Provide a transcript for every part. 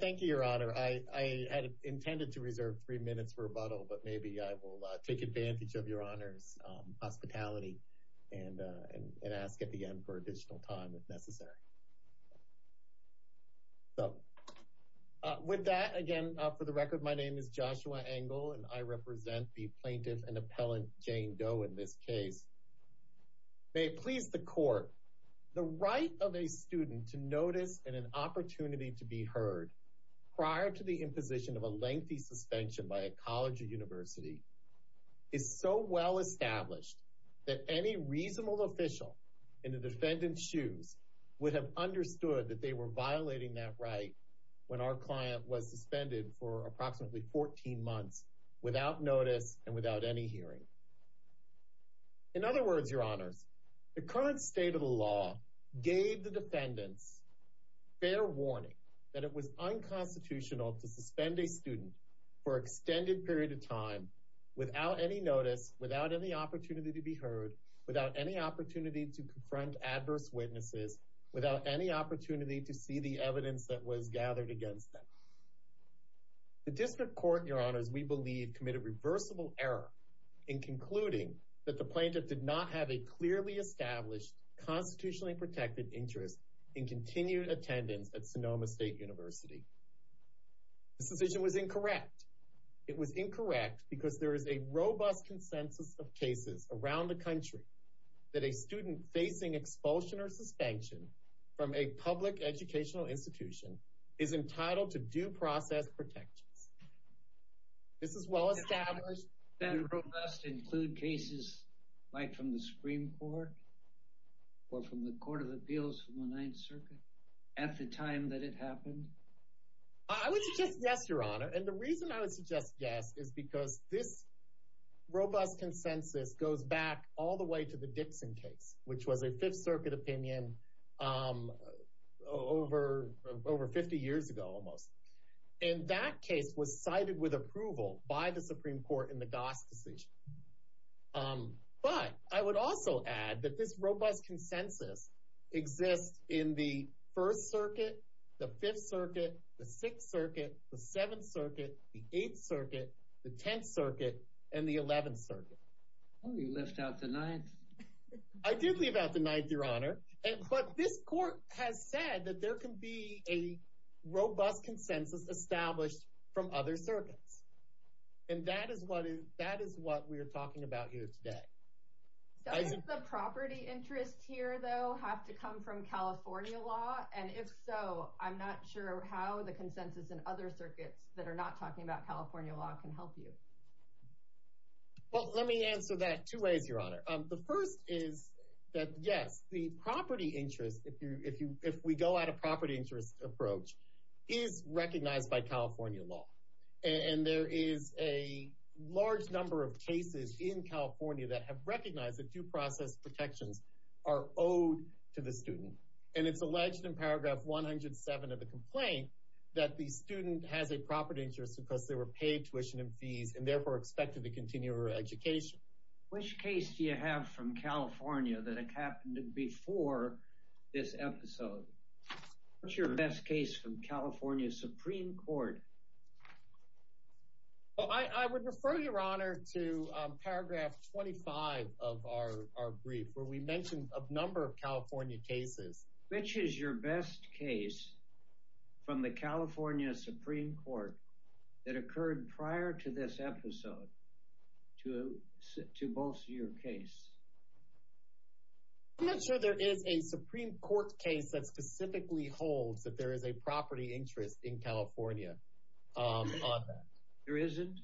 Thank you, Your Honor. I had intended to reserve three minutes for rebuttal, but maybe I will take advantage of Your Honor's hospitality and ask at the end for additional time if necessary. With that, again, for the record, my name is Joshua Engel and I represent the plaintiff and appellant Jane Doe in this case. May it please the Court, the right of a student to notice in an opportunity to be heard prior to the imposition of a lengthy suspension by a college or university is so well established that any reasonable official in the defendant's shoes would have understood that they were violating that right when our client was suspended for approximately 14 months without notice and without any hearing. In other words, Your Honors, the current state of the law gave the defendants fair warning that it was unconstitutional to suspend a student for an extended period of time without any notice, without any opportunity to be heard, without any opportunity to confront adverse witnesses, without any opportunity to see the evidence that was gathered against them. The District Court, Your Honors, we believe committed reversible error in concluding that the plaintiff did not have a clearly established, constitutionally protected interest in continued attendance at Sonoma State University. This decision was incorrect. It was incorrect because there is a robust consensus of cases around the country that a student facing expulsion or suspension from a public educational institution is entitled to due process protections. This is well established. I would suggest yes, Your Honor, and the reason I would suggest yes is because this robust consensus goes back all the way to the Dixon case, which was a Fifth Circuit opinion over 50 years ago almost. And that case was cited with approval by the Supreme Court in the Goss decision. But I would also add that this robust consensus exists in the First Circuit, the Fifth Circuit, the Sixth Circuit, the Seventh Circuit, the Eighth Circuit, the Tenth Circuit, and the Eleventh Circuit. Oh, you left out the Ninth. I did leave out the Ninth, Your Honor, but this court has said that there can be a robust consensus established from other circuits. And that is what we are talking about here today. Does the property interest here, though, have to come from California law? And if so, I'm not sure how the consensus in other circuits that are not talking about California law can help you. Well, let me answer that two ways, Your Honor. The first is that, yes, the property interest, if we go at a property interest approach, is recognized by California law. And there is a large number of cases in California that have recognized that due process protections are owed to the student. And it's alleged in paragraph 107 of the complaint that the student has a property interest because they were paid tuition and fees and therefore expected to continue their education. Which case do you have from California that happened before this episode? What's your best case from California Supreme Court? Well, I would refer, Your Honor, to paragraph 25 of our brief where we mentioned a number of California cases. Which is your best case from the California Supreme Court that occurred prior to this episode to bolster your case? I'm not sure there is a Supreme Court case that specifically holds that there is a property interest in California on that. There isn't?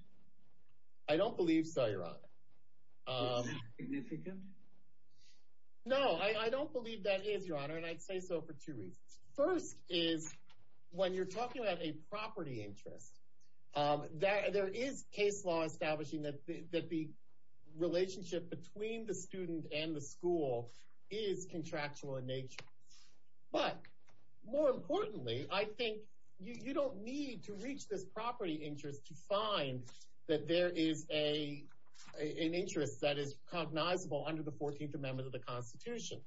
I don't believe so, Your Honor. Is that significant? No, I don't believe that is, Your Honor, and I'd say so for two reasons. First is, when you're talking about a property interest, there is case law establishing that the relationship between the student and the school is contractual in nature. But, more importantly, I think you don't need to reach this property interest to find that there is an interest that is cognizable under the 14th Amendment of the Constitution.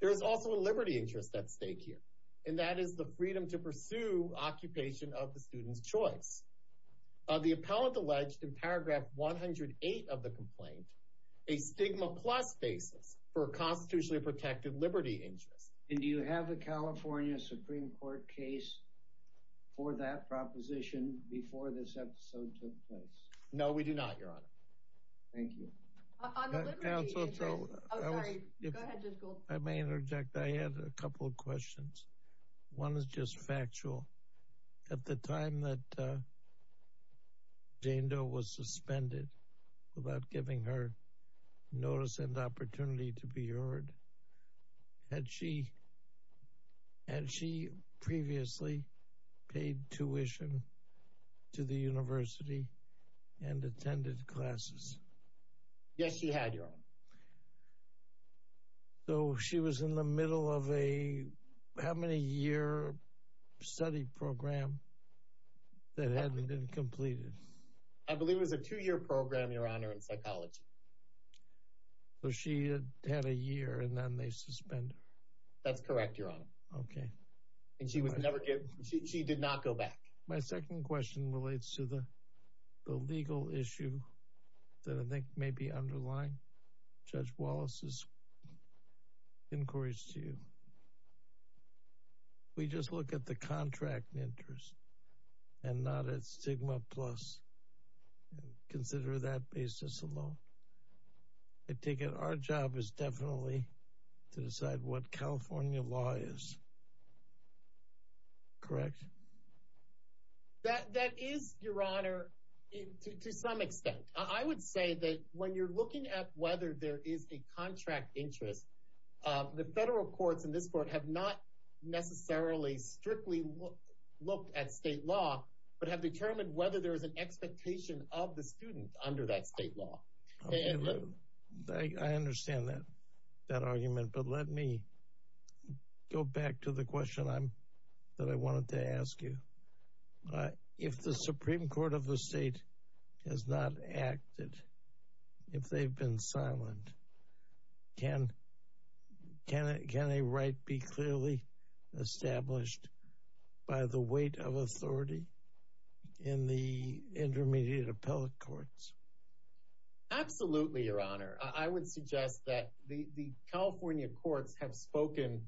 There is also a liberty interest at stake here, and that is the freedom to pursue occupation of the student's choice. The appellant alleged in paragraph 108 of the complaint a stigma plus basis for a constitutionally protected liberty interest. And do you have a California Supreme Court case for that proposition before this episode took place? No, we do not, Your Honor. Thank you. I may interject. I had a couple of questions. One is just factual. At the time that Jane Doe was suspended without giving her notice and opportunity to be heard, had she previously paid tuition to the university and attended classes? Yes, she had, Your Honor. So, she was in the middle of a how many-year study program that hadn't been completed? I believe it was a two-year program, Your Honor, in psychology. So, she had had a year, and then they suspended her? That's correct, Your Honor. Okay. And she did not go back? My second question relates to the legal issue that I think may be underlying Judge Wallace's inquiries to you. We just look at the contract interest and not at stigma plus and consider that basis alone. I take it our job is definitely to decide what California law is. Correct. That is, Your Honor, to some extent. I would say that when you're looking at whether there is a contract interest, the federal courts and this court have not necessarily strictly looked at state law, but have determined whether there is an expectation of the student under that state law. I understand that argument, but let me go back to the question that I wanted to ask you. If the Supreme Court of the state has not acted, if they've been silent, can a right be clearly established by the weight of authority in the intermediate appellate courts? Absolutely, Your Honor. I would suggest that the California courts have spoken,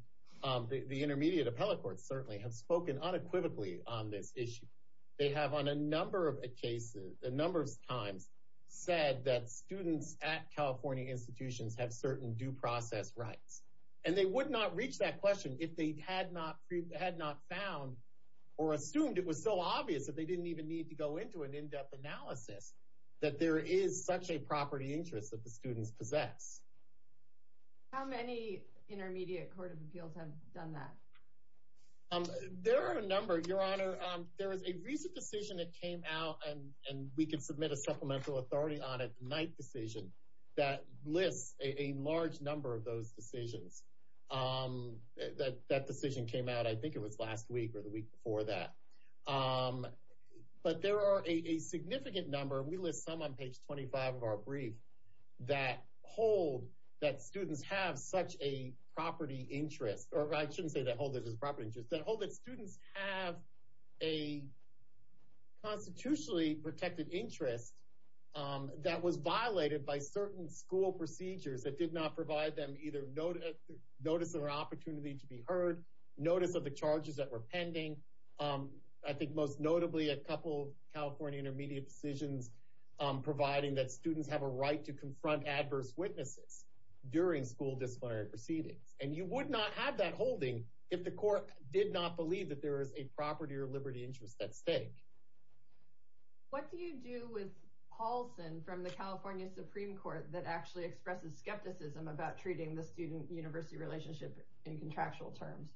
the intermediate appellate courts certainly have spoken unequivocally on this issue. They have on a number of cases, a number of times, said that students at California institutions have certain due process rights. And they would not reach that question if they had not found or assumed it was so obvious that they didn't even need to go into an in-depth analysis that there is such a property interest that the students possess. How many intermediate court of appeals have done that? There are a number, Your Honor. There is a recent decision that came out, and we can submit a supplemental authority on it, the Knight decision, that lists a large number of those decisions. That decision came out, I think it was last week or the week before that. But there are a significant number, and we list some on page 25 of our brief, that hold that students have such a property interest, or I shouldn't say that hold it as a property interest, that hold that students have a constitutionally protected interest that was violated by certain school procedures that did not provide them either notice of an opportunity to be heard, notice of the charges that were pending. I think most notably a couple of California intermediate decisions providing that students have a right to confront adverse witnesses during school disciplinary proceedings. And you would not have that holding if the court did not believe that there is a property or liberty interest at stake. What do you do with Paulson from the California Supreme Court that actually expresses skepticism about treating the student-university relationship in contractual terms?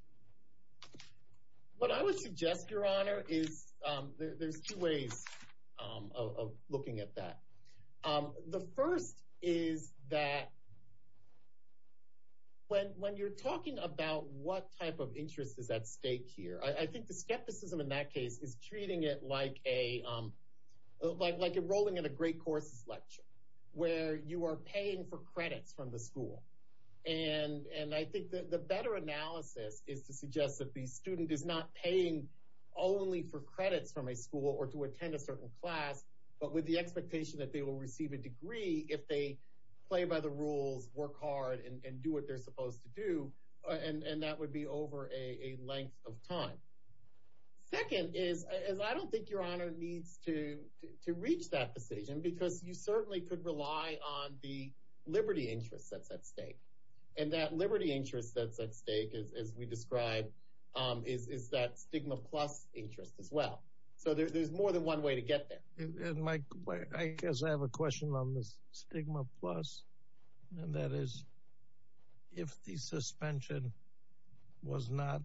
What I would suggest, Your Honor, is there's two ways of looking at that. The first is that when you're talking about what type of interest is at stake here, I think the skepticism in that case is treating it like enrolling in a great courses lecture, where you are paying for credits from the school. And I think the better analysis is to suggest that the student is not paying only for credits from a school or to attend a certain class, but with the expectation that they will receive a degree if they play by the rules, work hard, and do what they're supposed to do, and that would be over a length of time. Second is, I don't think Your Honor needs to reach that decision because you certainly could rely on the liberty interest that's at stake. And that liberty interest that's at stake, as we described, is that stigma plus interest as well. So there's more than one way to get there. And Mike, I guess I have a question on this stigma plus, and that is, if the suspension was not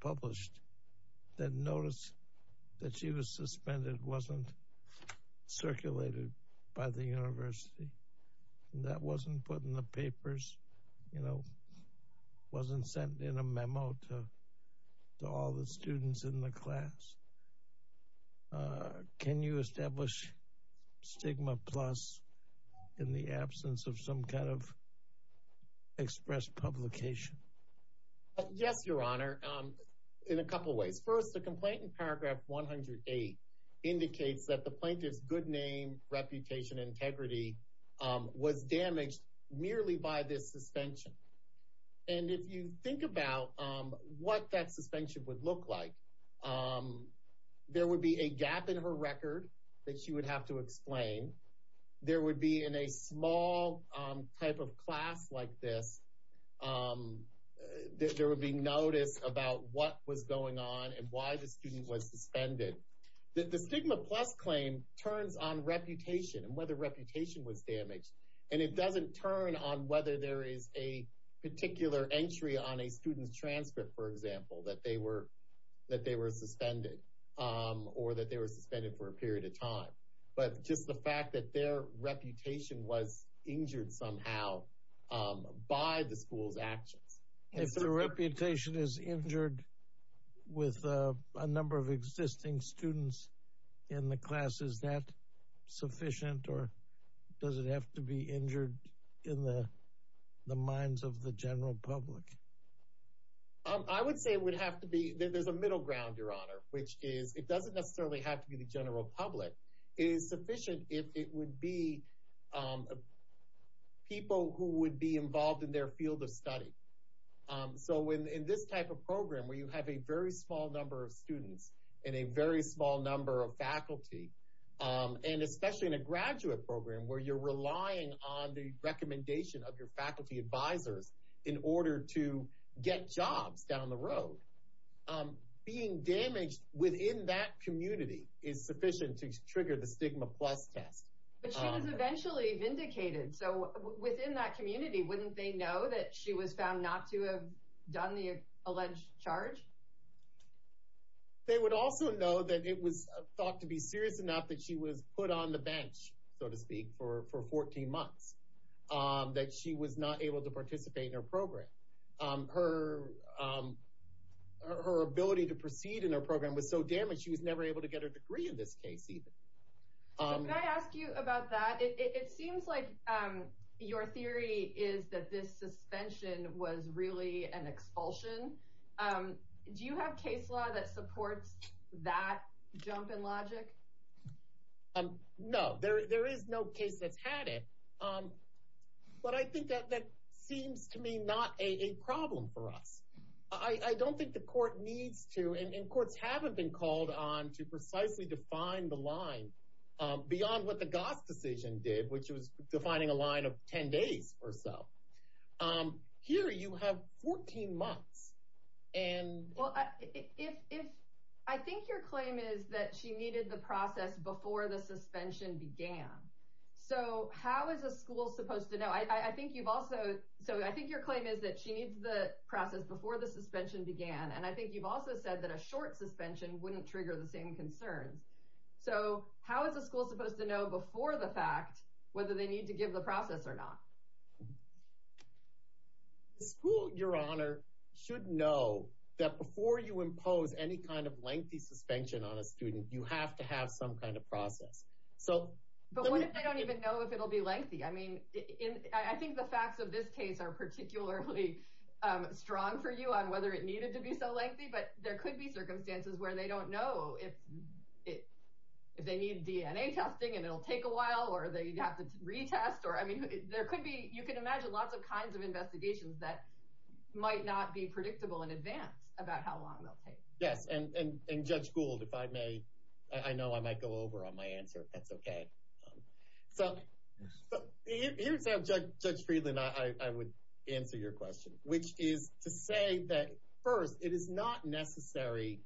published, then notice that she was suspended wasn't circulated by the university. That wasn't put in the papers, you know, wasn't sent in a memo to all the students in the class. Can you establish stigma plus in the absence of some kind of express publication? Yes, Your Honor, in a couple of ways. First, the complaint in paragraph 108 indicates that the plaintiff's good name, reputation, integrity was damaged merely by this suspension. And if you think about what that suspension would look like, there would be a gap in her record that she would have to explain. There would be in a small type of class like this, there would be notice about what was going on and why the student was suspended. The stigma plus claim turns on reputation and whether reputation was damaged. And it doesn't turn on whether there is a particular entry on a student's transcript, for example, that they were suspended or that they were suspended for a period of time. But just the fact that their reputation was injured somehow by the school's actions. If the reputation is injured with a number of existing students in the class, is that sufficient or does it have to be injured in the minds of the general public? I would say it would have to be. There's a middle ground, Your Honor, which is it doesn't necessarily have to be the general public. It is sufficient if it would be people who would be involved in their field of study. So in this type of program where you have a very small number of students and a very small number of faculty, and especially in a graduate program where you're relying on the recommendation of your faculty advisors in order to get jobs down the road, being damaged within that community is sufficient to trigger the stigma plus test. But she was eventually vindicated. So within that community, wouldn't they know that she was found not to have done the alleged charge? They would also know that it was thought to be serious enough that she was put on the bench, so to speak, for 14 months, that she was not able to participate in her program. Her ability to proceed in her program was so damaged she was never able to get her degree in this case even. Can I ask you about that? It seems like your theory is that this suspension was really an expulsion. Do you have case law that supports that jump in logic? No, there is no case that's had it. But I think that seems to me not a problem for us. I don't think the court needs to, and courts haven't been called on to precisely define the line beyond what the Goss decision did, which was defining a line of 10 days or so. Here you have 14 months. I think your claim is that she needed the process before the suspension began. So how is a school supposed to know? I think your claim is that she needs the process before the suspension began. And I think you've also said that a short suspension wouldn't trigger the same concerns. So how is a school supposed to know before the fact whether they need to give the process or not? The school, your honor, should know that before you impose any kind of lengthy suspension on a student, you have to have some kind of process. But what if they don't even know if it'll be lengthy? I think the facts of this case are particularly strong for you on whether it needed to be so lengthy, but there could be circumstances where they don't know if they need DNA testing and it'll take a while or they have to retest. You can imagine lots of kinds of investigations that might not be predictable in advance about how long they'll take. Yes, and Judge Gould, if I may, I know I might go over on my answer if that's okay. So here's how Judge Friedland and I would answer your question, which is to say that, first, it is not necessary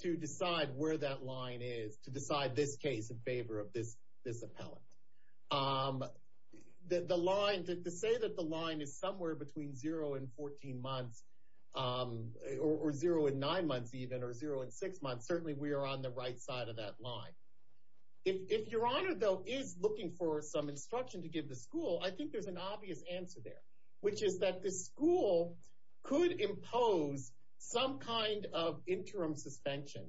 to decide where that line is to decide this case in favor of this appellant. The line, to say that the line is somewhere between 0 and 14 months or 0 and 9 months even or 0 and 6 months, certainly we are on the right side of that line. If your honor, though, is looking for some instruction to give the school, I think there's an obvious answer there, which is that the school could impose some kind of interim suspension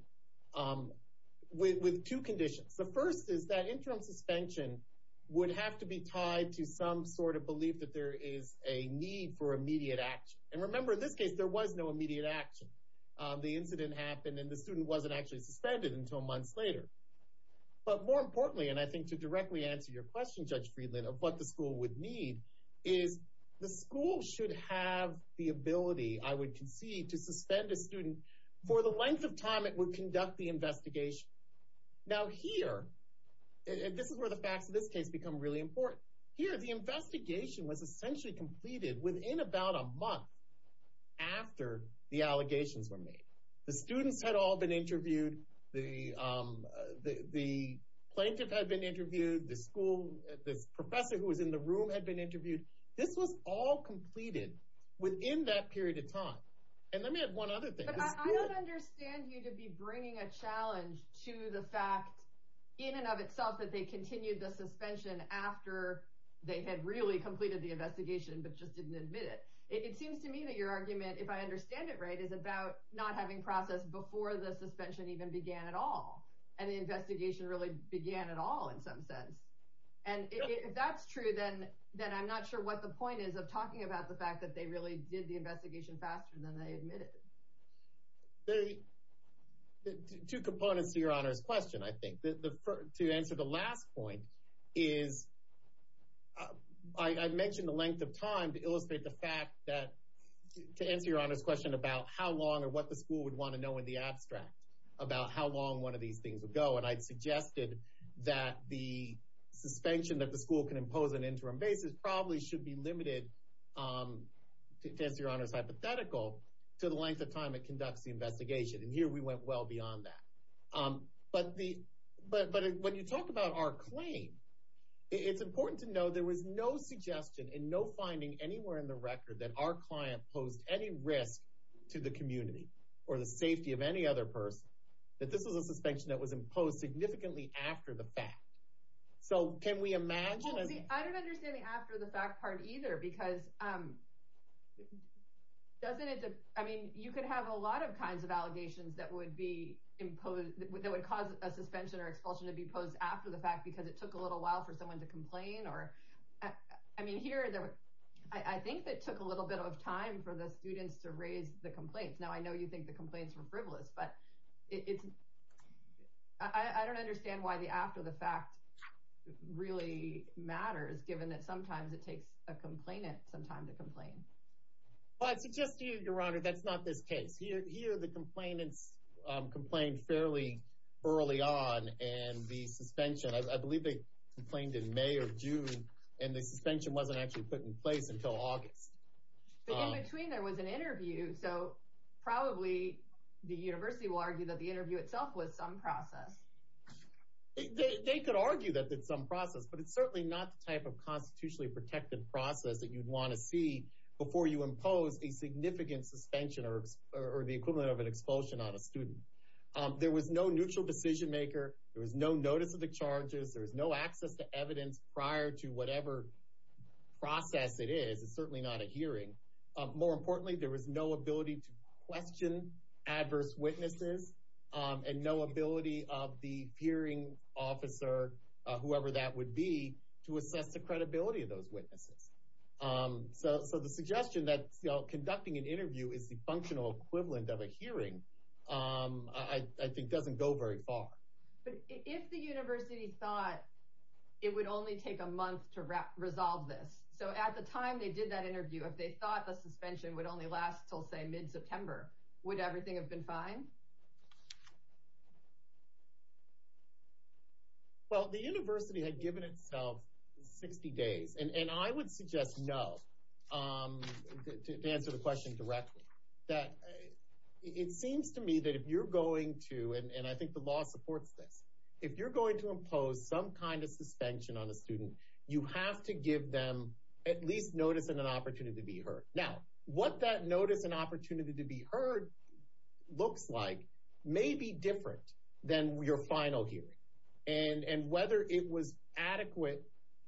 with two conditions. The first is that interim suspension would have to be tied to some sort of belief that there is a need for immediate action. And remember, in this case, there was no immediate action. The incident happened and the student wasn't actually suspended until months later. But more importantly, and I think to directly answer your question, Judge Friedland, of what the school would need, is the school should have the ability, I would concede, to suspend a student for the length of time it would conduct the investigation. Now here, and this is where the facts of this case become really important, here the investigation was essentially completed within about a month after the allegations were made. The students had all been interviewed, the plaintiff had been interviewed, the school, the professor who was in the room had been interviewed. This was all completed within that period of time. And let me add one other thing. I don't understand you to be bringing a challenge to the fact, in and of itself, that they continued the suspension after they had really completed the investigation but just didn't admit it. It seems to me that your argument, if I understand it right, is about not having processed before the suspension even began at all, and the investigation really began at all in some sense. And if that's true, then I'm not sure what the point is of talking about the fact that they really did the investigation faster than they admitted. There are two components to Your Honor's question, I think. To answer the last point is, I mentioned the length of time to illustrate the fact that, to answer Your Honor's question about how long or what the school would want to know in the abstract, about how long one of these things would go, and I suggested that the suspension that the school can impose on an interim basis probably should be limited, to answer Your Honor's hypothetical, to the length of time it conducts the investigation. And here we went well beyond that. But when you talk about our claim, it's important to know there was no suggestion and no finding anywhere in the record that our client posed any risk to the community or the safety of any other person, that this was a suspension that was imposed significantly after the fact. So can we imagine? I don't understand the after the fact part either, because you could have a lot of kinds of allegations that would cause a suspension or expulsion to be posed after the fact, because it took a little while for someone to complain. I think it took a little bit of time for the students to raise the complaints. Now I know you think the complaints were frivolous, but I don't understand why the after the fact really matters, given that sometimes it takes a complainant some time to complain. Well, I'd suggest to you, Your Honor, that's not this case. Here the complainants complained fairly early on, and the suspension, I believe they complained in May or June, and the suspension wasn't actually put in place until August. But in between there was an interview, so probably the university will argue that the interview itself was some process. They could argue that it's some process, but it's certainly not the type of constitutionally protected process that you'd want to see before you impose a significant suspension or the equivalent of an expulsion on a student. There was no neutral decision maker. There was no notice of the charges. There was no access to evidence prior to whatever process it is. It's certainly not a hearing. More importantly, there was no ability to question adverse witnesses and no ability of the hearing officer, whoever that would be, to assess the credibility of those witnesses. So the suggestion that conducting an interview is the functional equivalent of a hearing I think doesn't go very far. But if the university thought it would only take a month to resolve this, so at the time they did that interview, if they thought the suspension would only last until, say, mid-September, would everything have been fine? Well, the university had given itself 60 days, and I would suggest no to answer the question directly. It seems to me that if you're going to, and I think the law supports this, you have to give them at least notice and an opportunity to be heard. Now, what that notice and opportunity to be heard looks like may be different than your final hearing. And whether it was adequate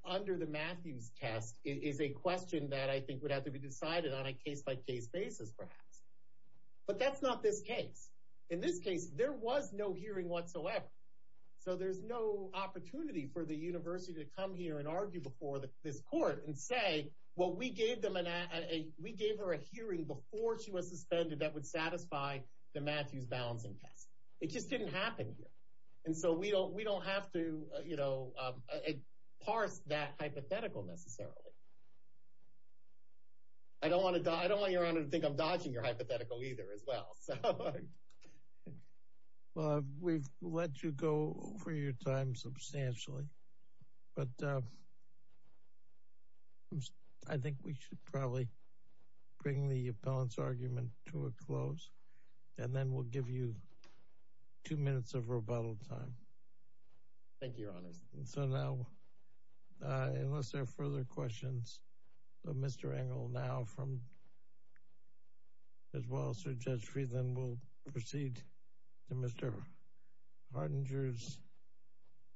under the Matthews test is a question that I think would have to be decided on a case-by-case basis perhaps. But that's not this case. In this case, there was no hearing whatsoever. So there's no opportunity for the university to come here and argue before this court and say, well, we gave her a hearing before she was suspended that would satisfy the Matthews balancing test. It just didn't happen here. And so we don't have to parse that hypothetical necessarily. I don't want Your Honor to think I'm dodging your hypothetical either as well. Well, we've let you go over your time substantially. But I think we should probably bring the appellant's argument to a close and then we'll give you two minutes of rebuttal time. Thank you, Your Honor. So now, unless there are further questions, Mr. Engel now as well as Judge Friedland will proceed to Mr. Hardinger's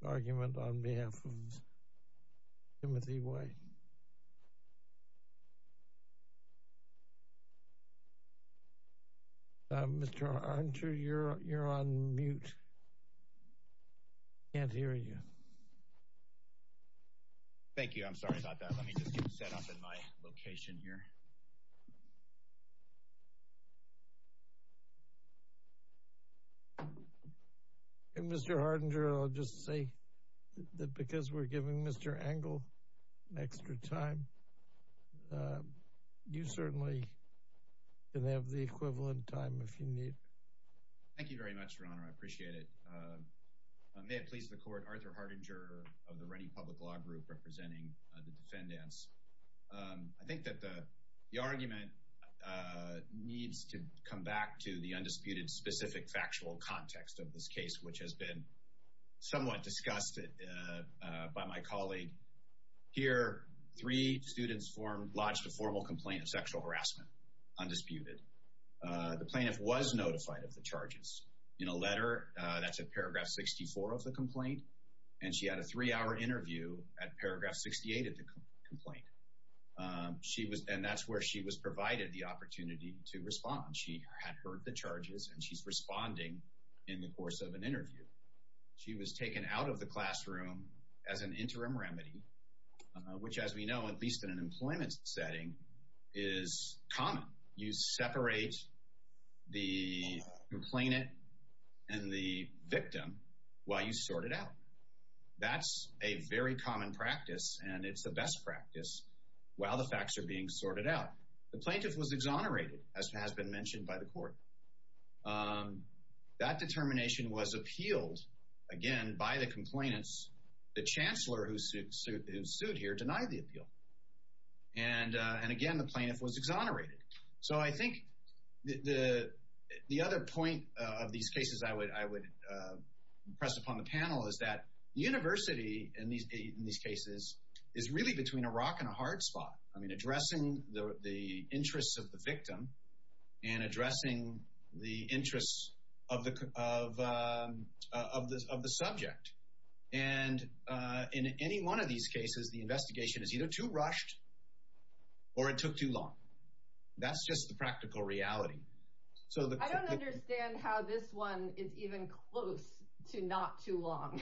argument on behalf of Timothy White. Mr. Hardinger, you're on mute. I can't hear you. Thank you. I'm sorry about that. Let me just get set up in my location here. Mr. Hardinger, I'll just say that because we're giving Mr. Engel extra time, you certainly can have the equivalent time if you need. Thank you very much, Your Honor. I appreciate it. May it please the court, Arthur Hardinger of the Ready Public Law Group representing the defendants. I think that the argument needs to come back to the undisputed specific factual context of this case, which has been somewhat discussed by my colleague. Here, three students lodged a formal complaint of sexual harassment, undisputed. The plaintiff was notified of the charges. In a letter, that's at paragraph 64 of the complaint, and she had a three-hour interview at paragraph 68 of the complaint. And that's where she was provided the opportunity to respond. She had heard the charges, and she's responding in the course of an interview. She was taken out of the classroom as an interim remedy, which as we know, at least in an employment setting, is common. You separate the complainant and the victim while you sort it out. That's a very common practice, and it's the best practice, while the facts are being sorted out. The plaintiff was exonerated, as has been mentioned by the court. That determination was appealed, again, by the complainants. The chancellor who sued here denied the appeal. And again, the plaintiff was exonerated. So I think the other point of these cases I would press upon the panel is that the university, in these cases, is really between a rock and a hard spot. I mean, addressing the interests of the victim and addressing the interests of the subject. And in any one of these cases, the investigation is either too rushed or it took too long. That's just the practical reality. I don't understand how this one is even close to not too long.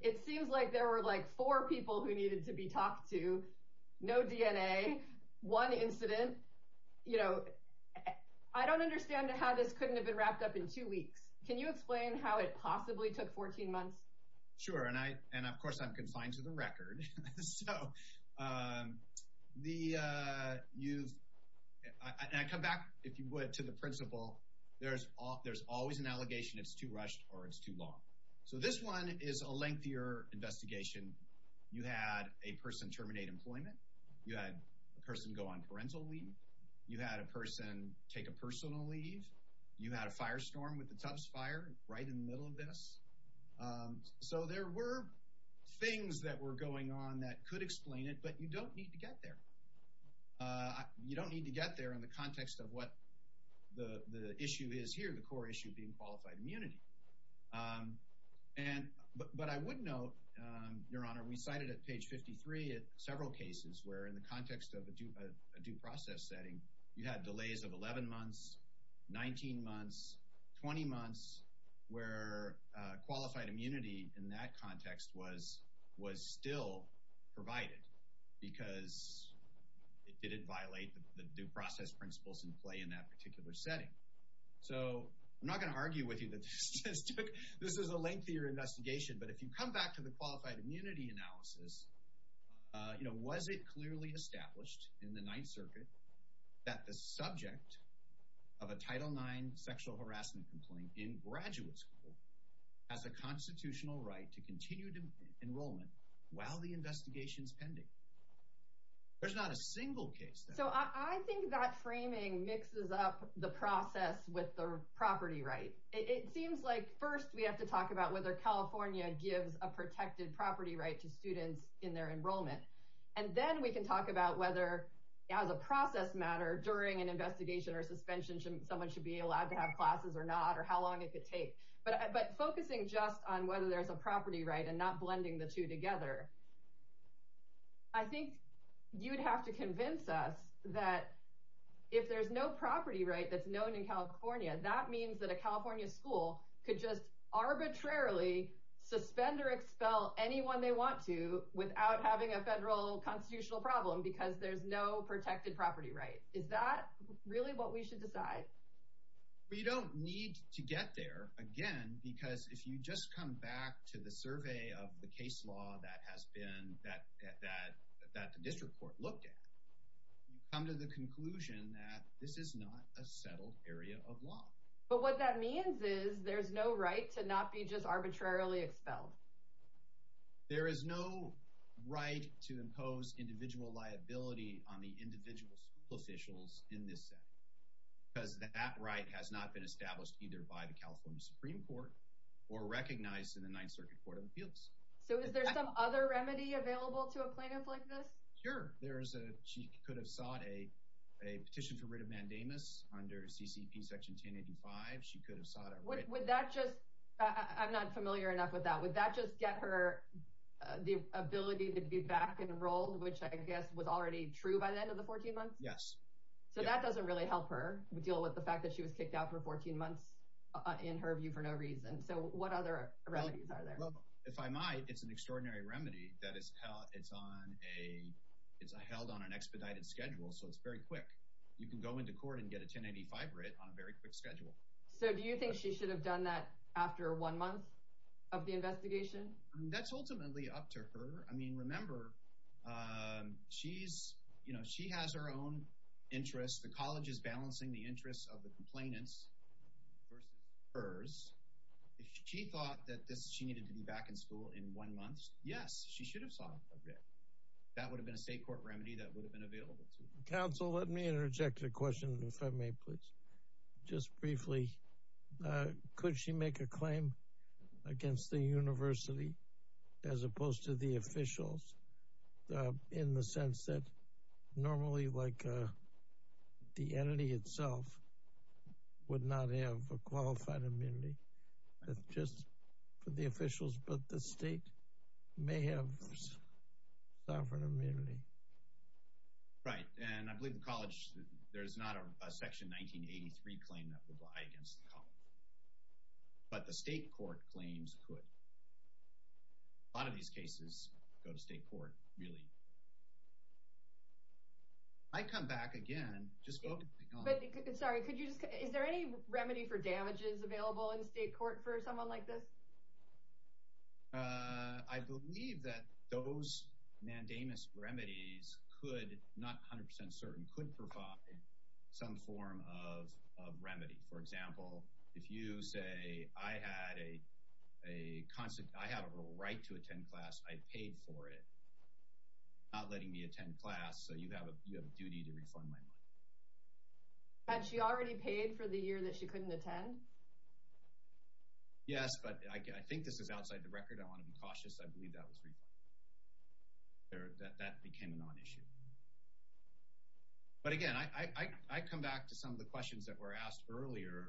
It seems like there were, like, four people who needed to be talked to, no DNA, one incident. I don't understand how this couldn't have been wrapped up in two weeks. Can you explain how it possibly took 14 months? Sure, and, of course, I'm confined to the record. And I come back, if you would, to the principle there's always an allegation it's too rushed or it's too long. So this one is a lengthier investigation. You had a person terminate employment. You had a person go on parental leave. You had a person take a personal leave. You had a firestorm with the Tubbs Fire right in the middle of this. So there were things that were going on that could explain it, but you don't need to get there. You don't need to get there in the context of what the issue is here, the core issue being qualified immunity. But I would note, Your Honor, we cited at page 53 several cases where in the context of a due process setting, you had delays of 11 months, 19 months, 20 months, where qualified immunity in that context was still provided because it didn't violate the due process principles in play in that particular setting. So I'm not going to argue with you that this is a lengthier investigation, but if you come back to the qualified immunity analysis, was it clearly established in the Ninth Circuit that the subject of a Title IX sexual harassment complaint in graduate school has a constitutional right to continue enrollment while the investigation is pending? There's not a single case that— So I think that framing mixes up the process with the property right. It seems like first we have to talk about whether California gives a protected property right to students in their enrollment, and then we can talk about whether, as a process matter, during an investigation or suspension, someone should be allowed to have classes or not, or how long it could take. But focusing just on whether there's a property right and not blending the two together, I think you'd have to convince us that if there's no property right that's known in California, that means that a California school could just arbitrarily suspend or expel anyone they want to without having a federal constitutional problem because there's no protected property right. Is that really what we should decide? We don't need to get there, again, because if you just come back to the survey of the case law that the district court looked at, you come to the conclusion that this is not a settled area of law. But what that means is there's no right to not be just arbitrarily expelled. There is no right to impose individual liability on the individual school officials in this setting because that right has not been established either by the California Supreme Court or recognized in the Ninth Circuit Court of Appeals. So is there some other remedy available to a plaintiff like this? Sure. She could have sought a petition for writ of mandamus under CCP Section 1085. She could have sought a writ of mandamus. I'm not familiar enough with that. Would that just get her the ability to be back enrolled, which I guess was already true by the end of the 14 months? Yes. So that doesn't really help her deal with the fact that she was kicked out for 14 months in her view for no reason. So what other remedies are there? Well, if I might, it's an extraordinary remedy that is held on an expedited schedule, so it's very quick. You can go into court and get a 1085 writ on a very quick schedule. So do you think she should have done that after one month of the investigation? That's ultimately up to her. I mean, remember, she has her own interests. The college is balancing the interests of the complainants versus hers. If she thought that she needed to be back in school in one month, yes, she should have sought a writ. That would have been a state court remedy that would have been available to her. Counsel, let me interject a question, if I may, please, just briefly. Could she make a claim against the university as opposed to the officials in the sense that normally, like the entity itself, would not have a qualified immunity just for the officials, but the state may have sovereign immunity? Right. And I believe the college, there's not a Section 1983 claim that would lie against the college. But the state court claims could. A lot of these cases go to state court, really. I'd come back again. Sorry, is there any remedy for damages available in state court for someone like this? I believe that those mandamus remedies could, not 100% certain, could provide some form of remedy. For example, if you say I had a right to attend class, I paid for it, not letting me attend class, so you have a duty to refund my money. Had she already paid for the year that she couldn't attend? Yes, but I think this is outside the record. I want to be cautious. I believe that was refunded. That became a non-issue. But again, I come back to some of the questions that were asked earlier.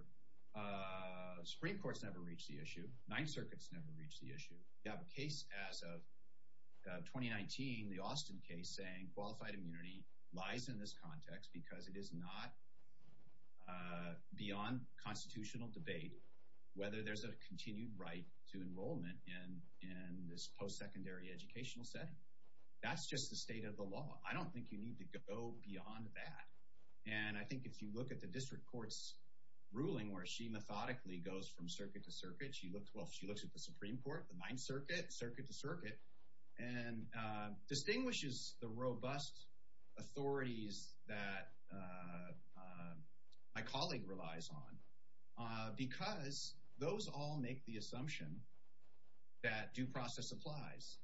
Supreme Court's never reached the issue. Ninth Circuit's never reached the issue. You have a case as of 2019, the Austin case, saying qualified immunity lies in this context because it is not beyond constitutional debate whether there's a continued right to enrollment in this post-secondary educational setting. That's just the state of the law. I don't think you need to go beyond that. And I think if you look at the district court's ruling, where she methodically goes from circuit to circuit, she looks at the Supreme Court, the Ninth Circuit, circuit to circuit, and distinguishes the robust authorities that my colleague relies on because those all make the assumption that due process applies.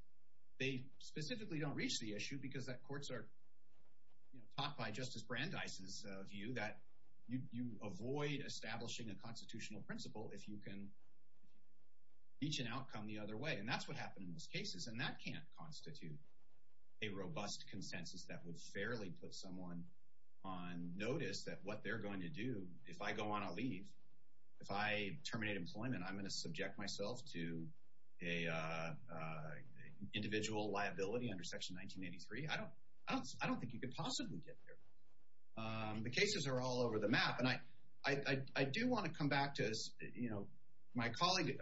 They specifically don't reach the issue because courts are taught by Justice Brandeis' view that you avoid establishing a constitutional principle if you can reach an outcome the other way. And that's what happened in those cases. And that can't constitute a robust consensus that would fairly put someone on notice that what they're going to do, if I go on a leave, if I terminate employment, I'm going to subject myself to individual liability under Section 1983. I don't think you could possibly get there. The cases are all over the map. And I do want to come back to, you know, my colleague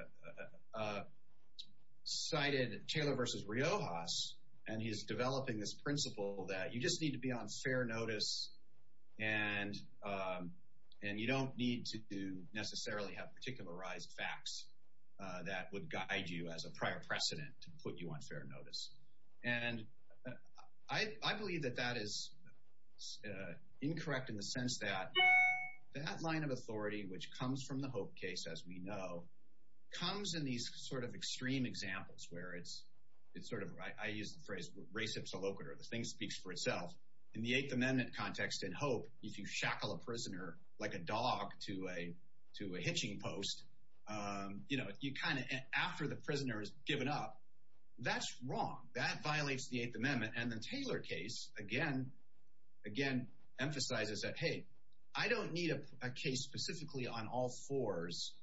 cited Taylor v. Riojas, and he's developing this principle that you just need to be on fair notice and you don't need to necessarily have particularized facts that would guide you as a prior precedent to put you on fair notice. And I believe that that is incorrect in the sense that that line of authority, which comes from the Hope case, as we know, comes in these sort of extreme examples where it's sort of, I use the phrase, res ipsa loquitur, the thing speaks for itself. In the Eighth Amendment context in Hope, if you shackle a prisoner like a dog to a hitching post, you know, you kind of, after the prisoner has given up, that's wrong. That violates the Eighth Amendment. And the Taylor case, again, emphasizes that, hey, I don't need a case specifically on all fours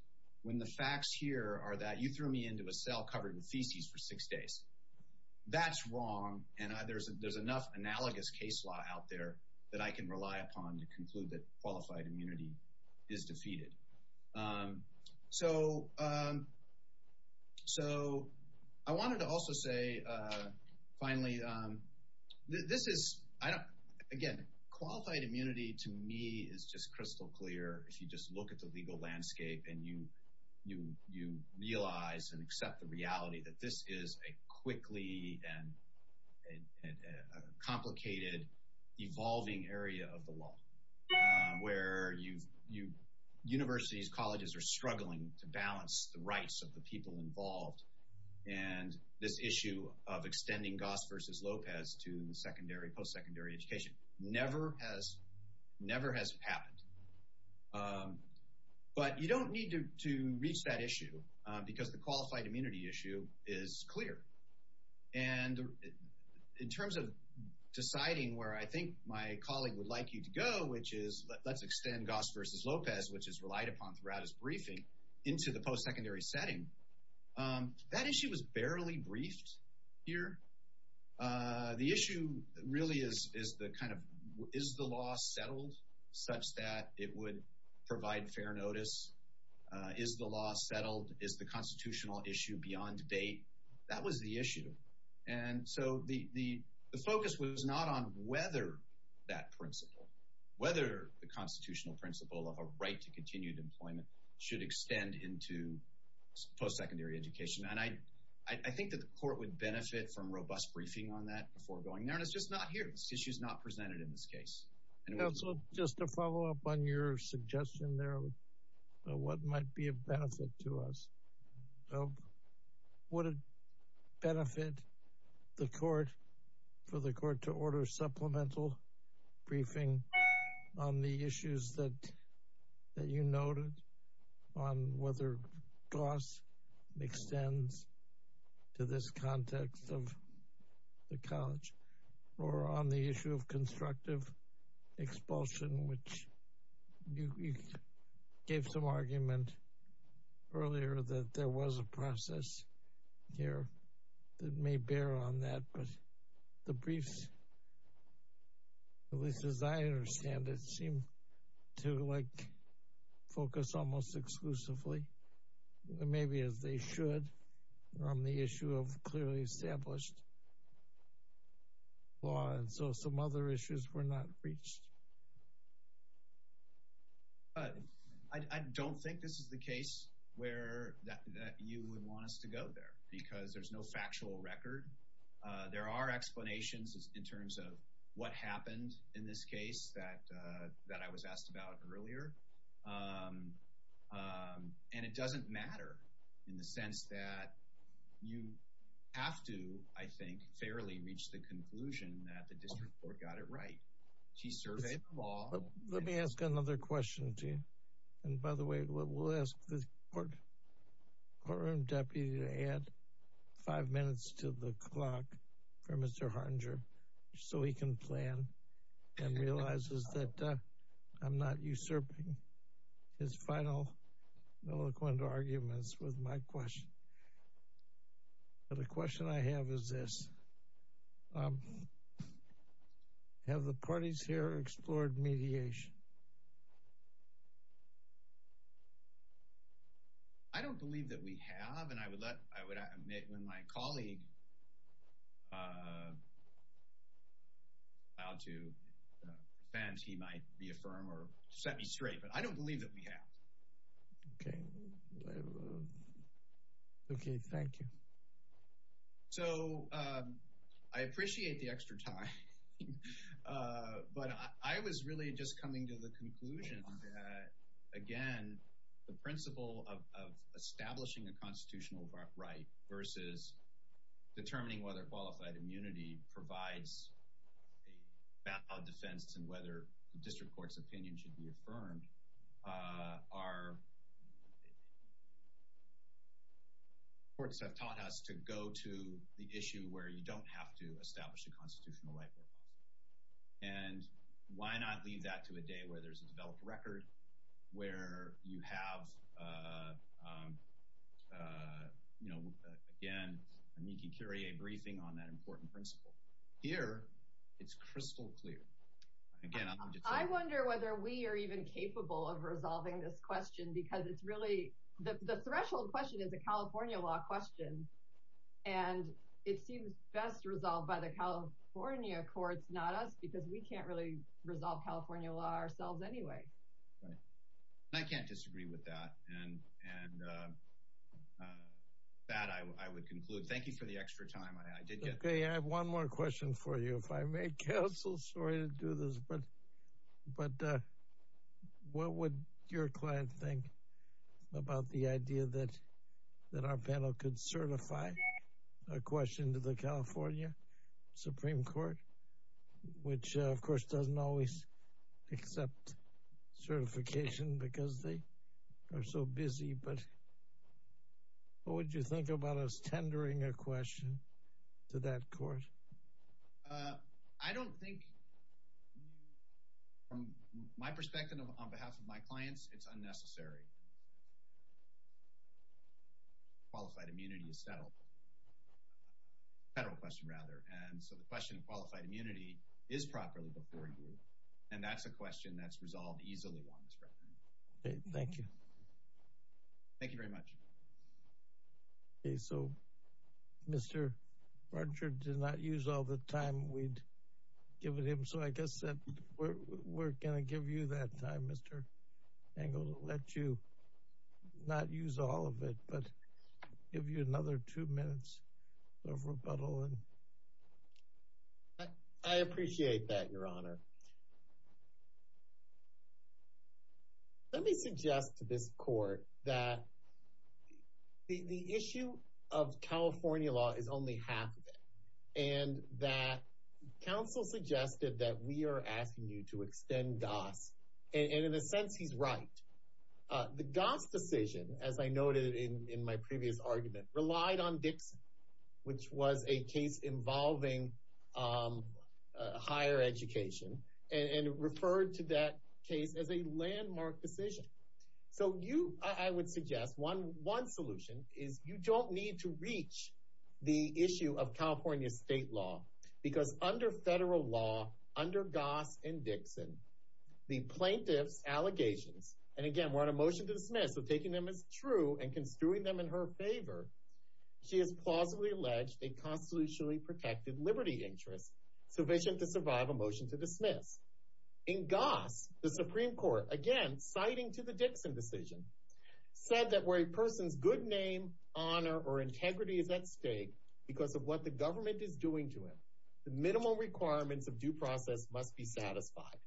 when the facts here are that you threw me into a cell covered with feces for six days. That's wrong, and there's enough analogous case law out there that I can rely upon to conclude that qualified immunity is defeated. So I wanted to also say, finally, this is, again, qualified immunity to me is just crystal clear. If you just look at the legal landscape and you realize and accept the reality that this is a quickly and complicated, evolving area of the law, where universities, colleges are struggling to balance the rights of the people involved, and this issue of extending Goss versus Lopez to the secondary, post-secondary education never has happened. But you don't need to reach that issue because the qualified immunity issue is clear. And in terms of deciding where I think my colleague would like you to go, which is let's extend Goss versus Lopez, which is relied upon throughout his briefing, into the post-secondary setting, that issue was barely briefed here. The issue really is the kind of is the law settled such that it would provide fair notice? Is the law settled? Is the constitutional issue beyond date? That was the issue. And so the focus was not on whether that principle, whether the constitutional principle of a right to continued employment should extend into post-secondary education. And I think that the court would benefit from robust briefing on that before going there. And it's just not here. This issue is not presented in this case. Counsel, just to follow up on your suggestion there of what might be a benefit to us. Would it benefit the court for the court to order supplemental briefing on the issues that you noted on whether Goss extends to this context of the college or on the issue of constructive expulsion, which you gave some argument earlier that there was a process here that may bear on that. But the briefs, at least as I understand it, seem to focus almost exclusively, maybe as they should, on the issue of clearly established law. And so some other issues were not reached. I don't think this is the case that you would want us to go there because there's no factual record. There are explanations in terms of what happened in this case that I was asked about earlier. And it doesn't matter in the sense that you have to, I think, fairly reach the conclusion that the district court got it right. Let me ask another question, Gene. And by the way, we'll ask the courtroom deputy to add five minutes to the clock for Mr. Hartinger so he can plan and realizes that I'm not usurping his final eloquent arguments with my question. The question I have is this. Have the parties here explored mediation? I don't believe that we have. And I would admit when my colleague filed to defend, he might reaffirm or set me straight. But I don't believe that we have. Okay. Okay, thank you. So I appreciate the extra time. But I was really just coming to the conclusion that, again, the principle of establishing a constitutional right versus determining whether qualified immunity provides a valid defense and whether the district court's opinion should be affirmed are— courts have taught us to go to the issue where you don't have to establish a constitutional right. And why not leave that to a day where there's a developed record, where you have, you know, again, a Niki Curie briefing on that important principle? Here, it's crystal clear. I wonder whether we are even capable of resolving this question because it's really— the threshold question is a California law question. And it seems best resolved by the California courts, not us, because we can't really resolve California law ourselves anyway. I can't disagree with that. And with that, I would conclude. Thank you for the extra time. Okay, I have one more question for you. If I may, counsel, sorry to do this, but what would your client think about the idea that our panel could certify a question to the California Supreme Court, which, of course, doesn't always accept certification because they are so busy, but what would you think about us tendering a question to that court? I don't think, from my perspective on behalf of my clients, it's unnecessary. Qualified immunity is settled. Federal question, rather. And so the question of qualified immunity is properly before you. And that's a question that's resolved easily once. Okay, thank you. Thank you very much. Okay, so Mr. Brunchard did not use all the time we'd given him, so I guess we're going to give you that time, Mr. Engle, to let you not use all of it, but give you another two minutes of rebuttal. I appreciate that, Your Honor. Your Honor, let me suggest to this court that the issue of California law is only half of it and that counsel suggested that we are asking you to extend GAS, and in a sense, he's right. The GAS decision, as I noted in my previous argument, relied on Dixon, which was a case involving higher education and referred to that case as a landmark decision. So you, I would suggest one solution is you don't need to reach the issue of California state law because under federal law, under GAS and Dixon, the plaintiff's allegations, and again, we're on a motion to dismiss, so taking them as true and construing them in her favor, she has plausibly alleged a constitutionally protected liberty interest sufficient to survive a motion to dismiss. In GAS, the Supreme Court, again, citing to the Dixon decision, said that where a person's good name, honor, or integrity is at stake because of what the government is doing to him, the minimum requirements of due process must be satisfied,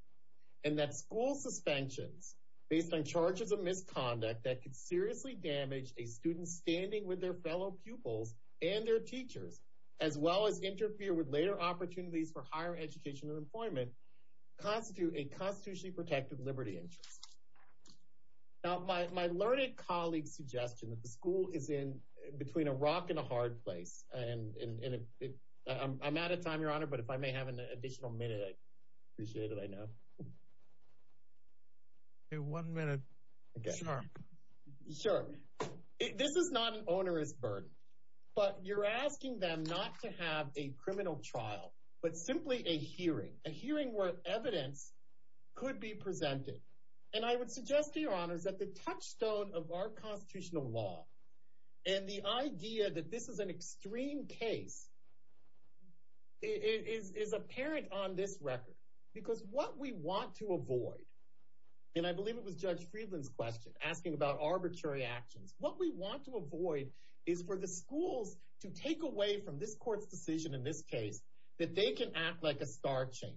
and that school suspensions based on charges of misconduct that could seriously damage a student standing with their fellow pupils and their teachers, as well as interfere with later opportunities for higher education and employment, constitute a constitutionally protected liberty interest. Now, my learned colleague's suggestion that the school is in between a rock and a hard place, and I'm out of time, Your Honor, but if I may have an additional minute, I'd appreciate it, I know. One minute. Sure. This is not an onerous burden, but you're asking them not to have a criminal trial, but simply a hearing, a hearing where evidence could be presented, and I would suggest to Your Honors that the touchstone of our constitutional law and the idea that this is an extreme case is apparent on this record, because what we want to avoid, and I believe it was Judge Friedland's question asking about arbitrary actions, what we want to avoid is for the schools to take away from this court's decision in this case that they can act like a star chamber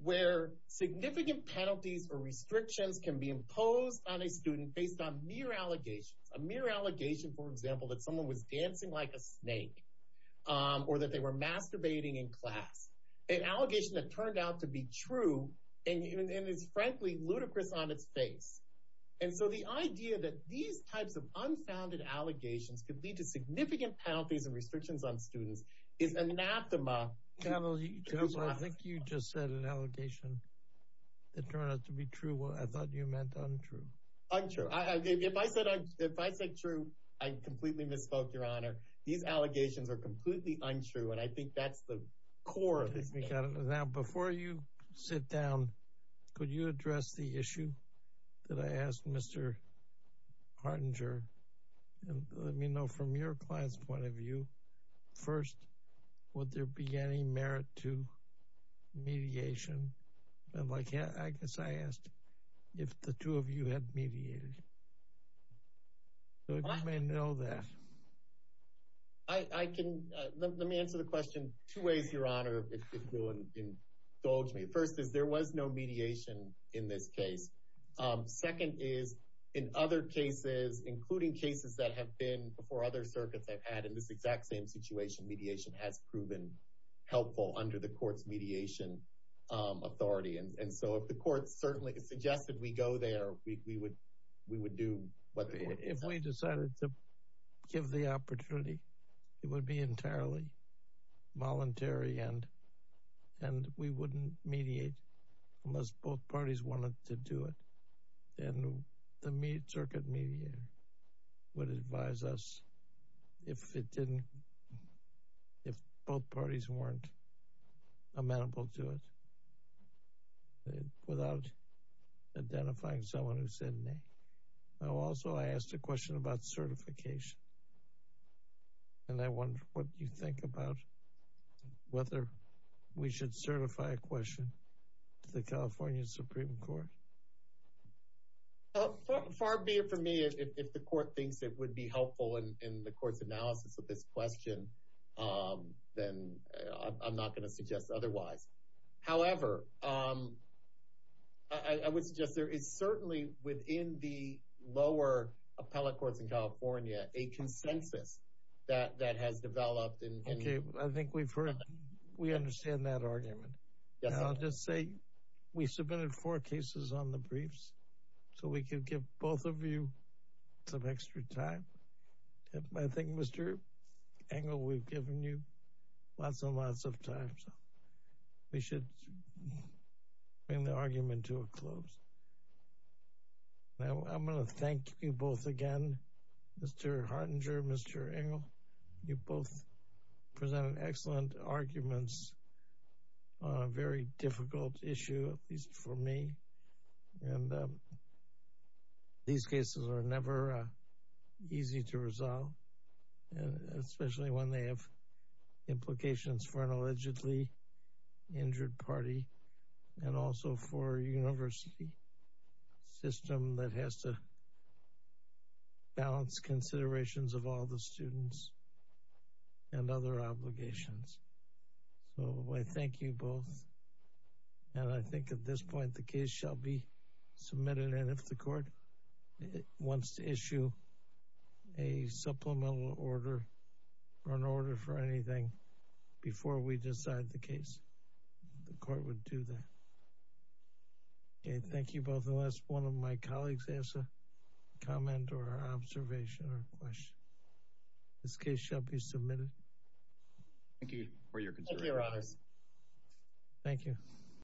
where significant penalties or restrictions can be imposed on a student based on mere allegations, a mere allegation, for example, that someone was dancing like a snake or that they were masturbating in class, an allegation that turned out to be true and is frankly ludicrous on its face. And so the idea that these types of unfounded allegations could lead to significant penalties and restrictions on students is anathema to this law. I think you just said an allegation that turned out to be true. I thought you meant untrue. Untrue. If I said true, I completely misspoke, Your Honor. These allegations are completely untrue, and I think that's the core of it. Now, before you sit down, could you address the issue that I asked Mr. Hartinger? Let me know from your client's point of view. First, would there be any merit to mediation? I guess I asked if the two of you had mediated. You may know that. Let me answer the question two ways, Your Honor, if you'll indulge me. First is, there was no mediation in this case. Second is, in other cases, including cases that have been before other circuits I've had, in this exact same situation, mediation has proven helpful under the court's mediation authority. And so if the court certainly suggested we go there, we would do what the court said. If we decided to give the opportunity, it would be entirely voluntary, and we wouldn't mediate unless both parties wanted to do it. And the circuit mediator would advise us if both parties weren't amenable to it without identifying someone who said nay. Now, also, I asked a question about certification, and I wonder what you think about whether we should certify a question to the California Supreme Court. Far be it from me. If the court thinks it would be helpful in the court's analysis of this question, then I'm not going to suggest otherwise. However, I would suggest that there is certainly, within the lower appellate courts in California, a consensus that has developed. Okay, I think we understand that argument. I'll just say we submitted four cases on the briefs, so we can give both of you some extra time. I think, Mr. Engel, we've given you lots and lots of time, so we should bring the argument to a close. Now, I'm going to thank you both again, Mr. Hartinger, Mr. Engel. You both presented excellent arguments on a very difficult issue, at least for me, and these cases are never easy to resolve, especially when they have implications for an allegedly injured party and also for a university system that has to balance considerations of all the students and other obligations. So I thank you both, and if the court wants to issue a supplemental order or an order for anything before we decide the case, the court would do that. Okay, thank you both. Unless one of my colleagues has a comment or observation or question, this case shall be submitted. Thank you for your concern. Thank you, Your Honors. Thank you.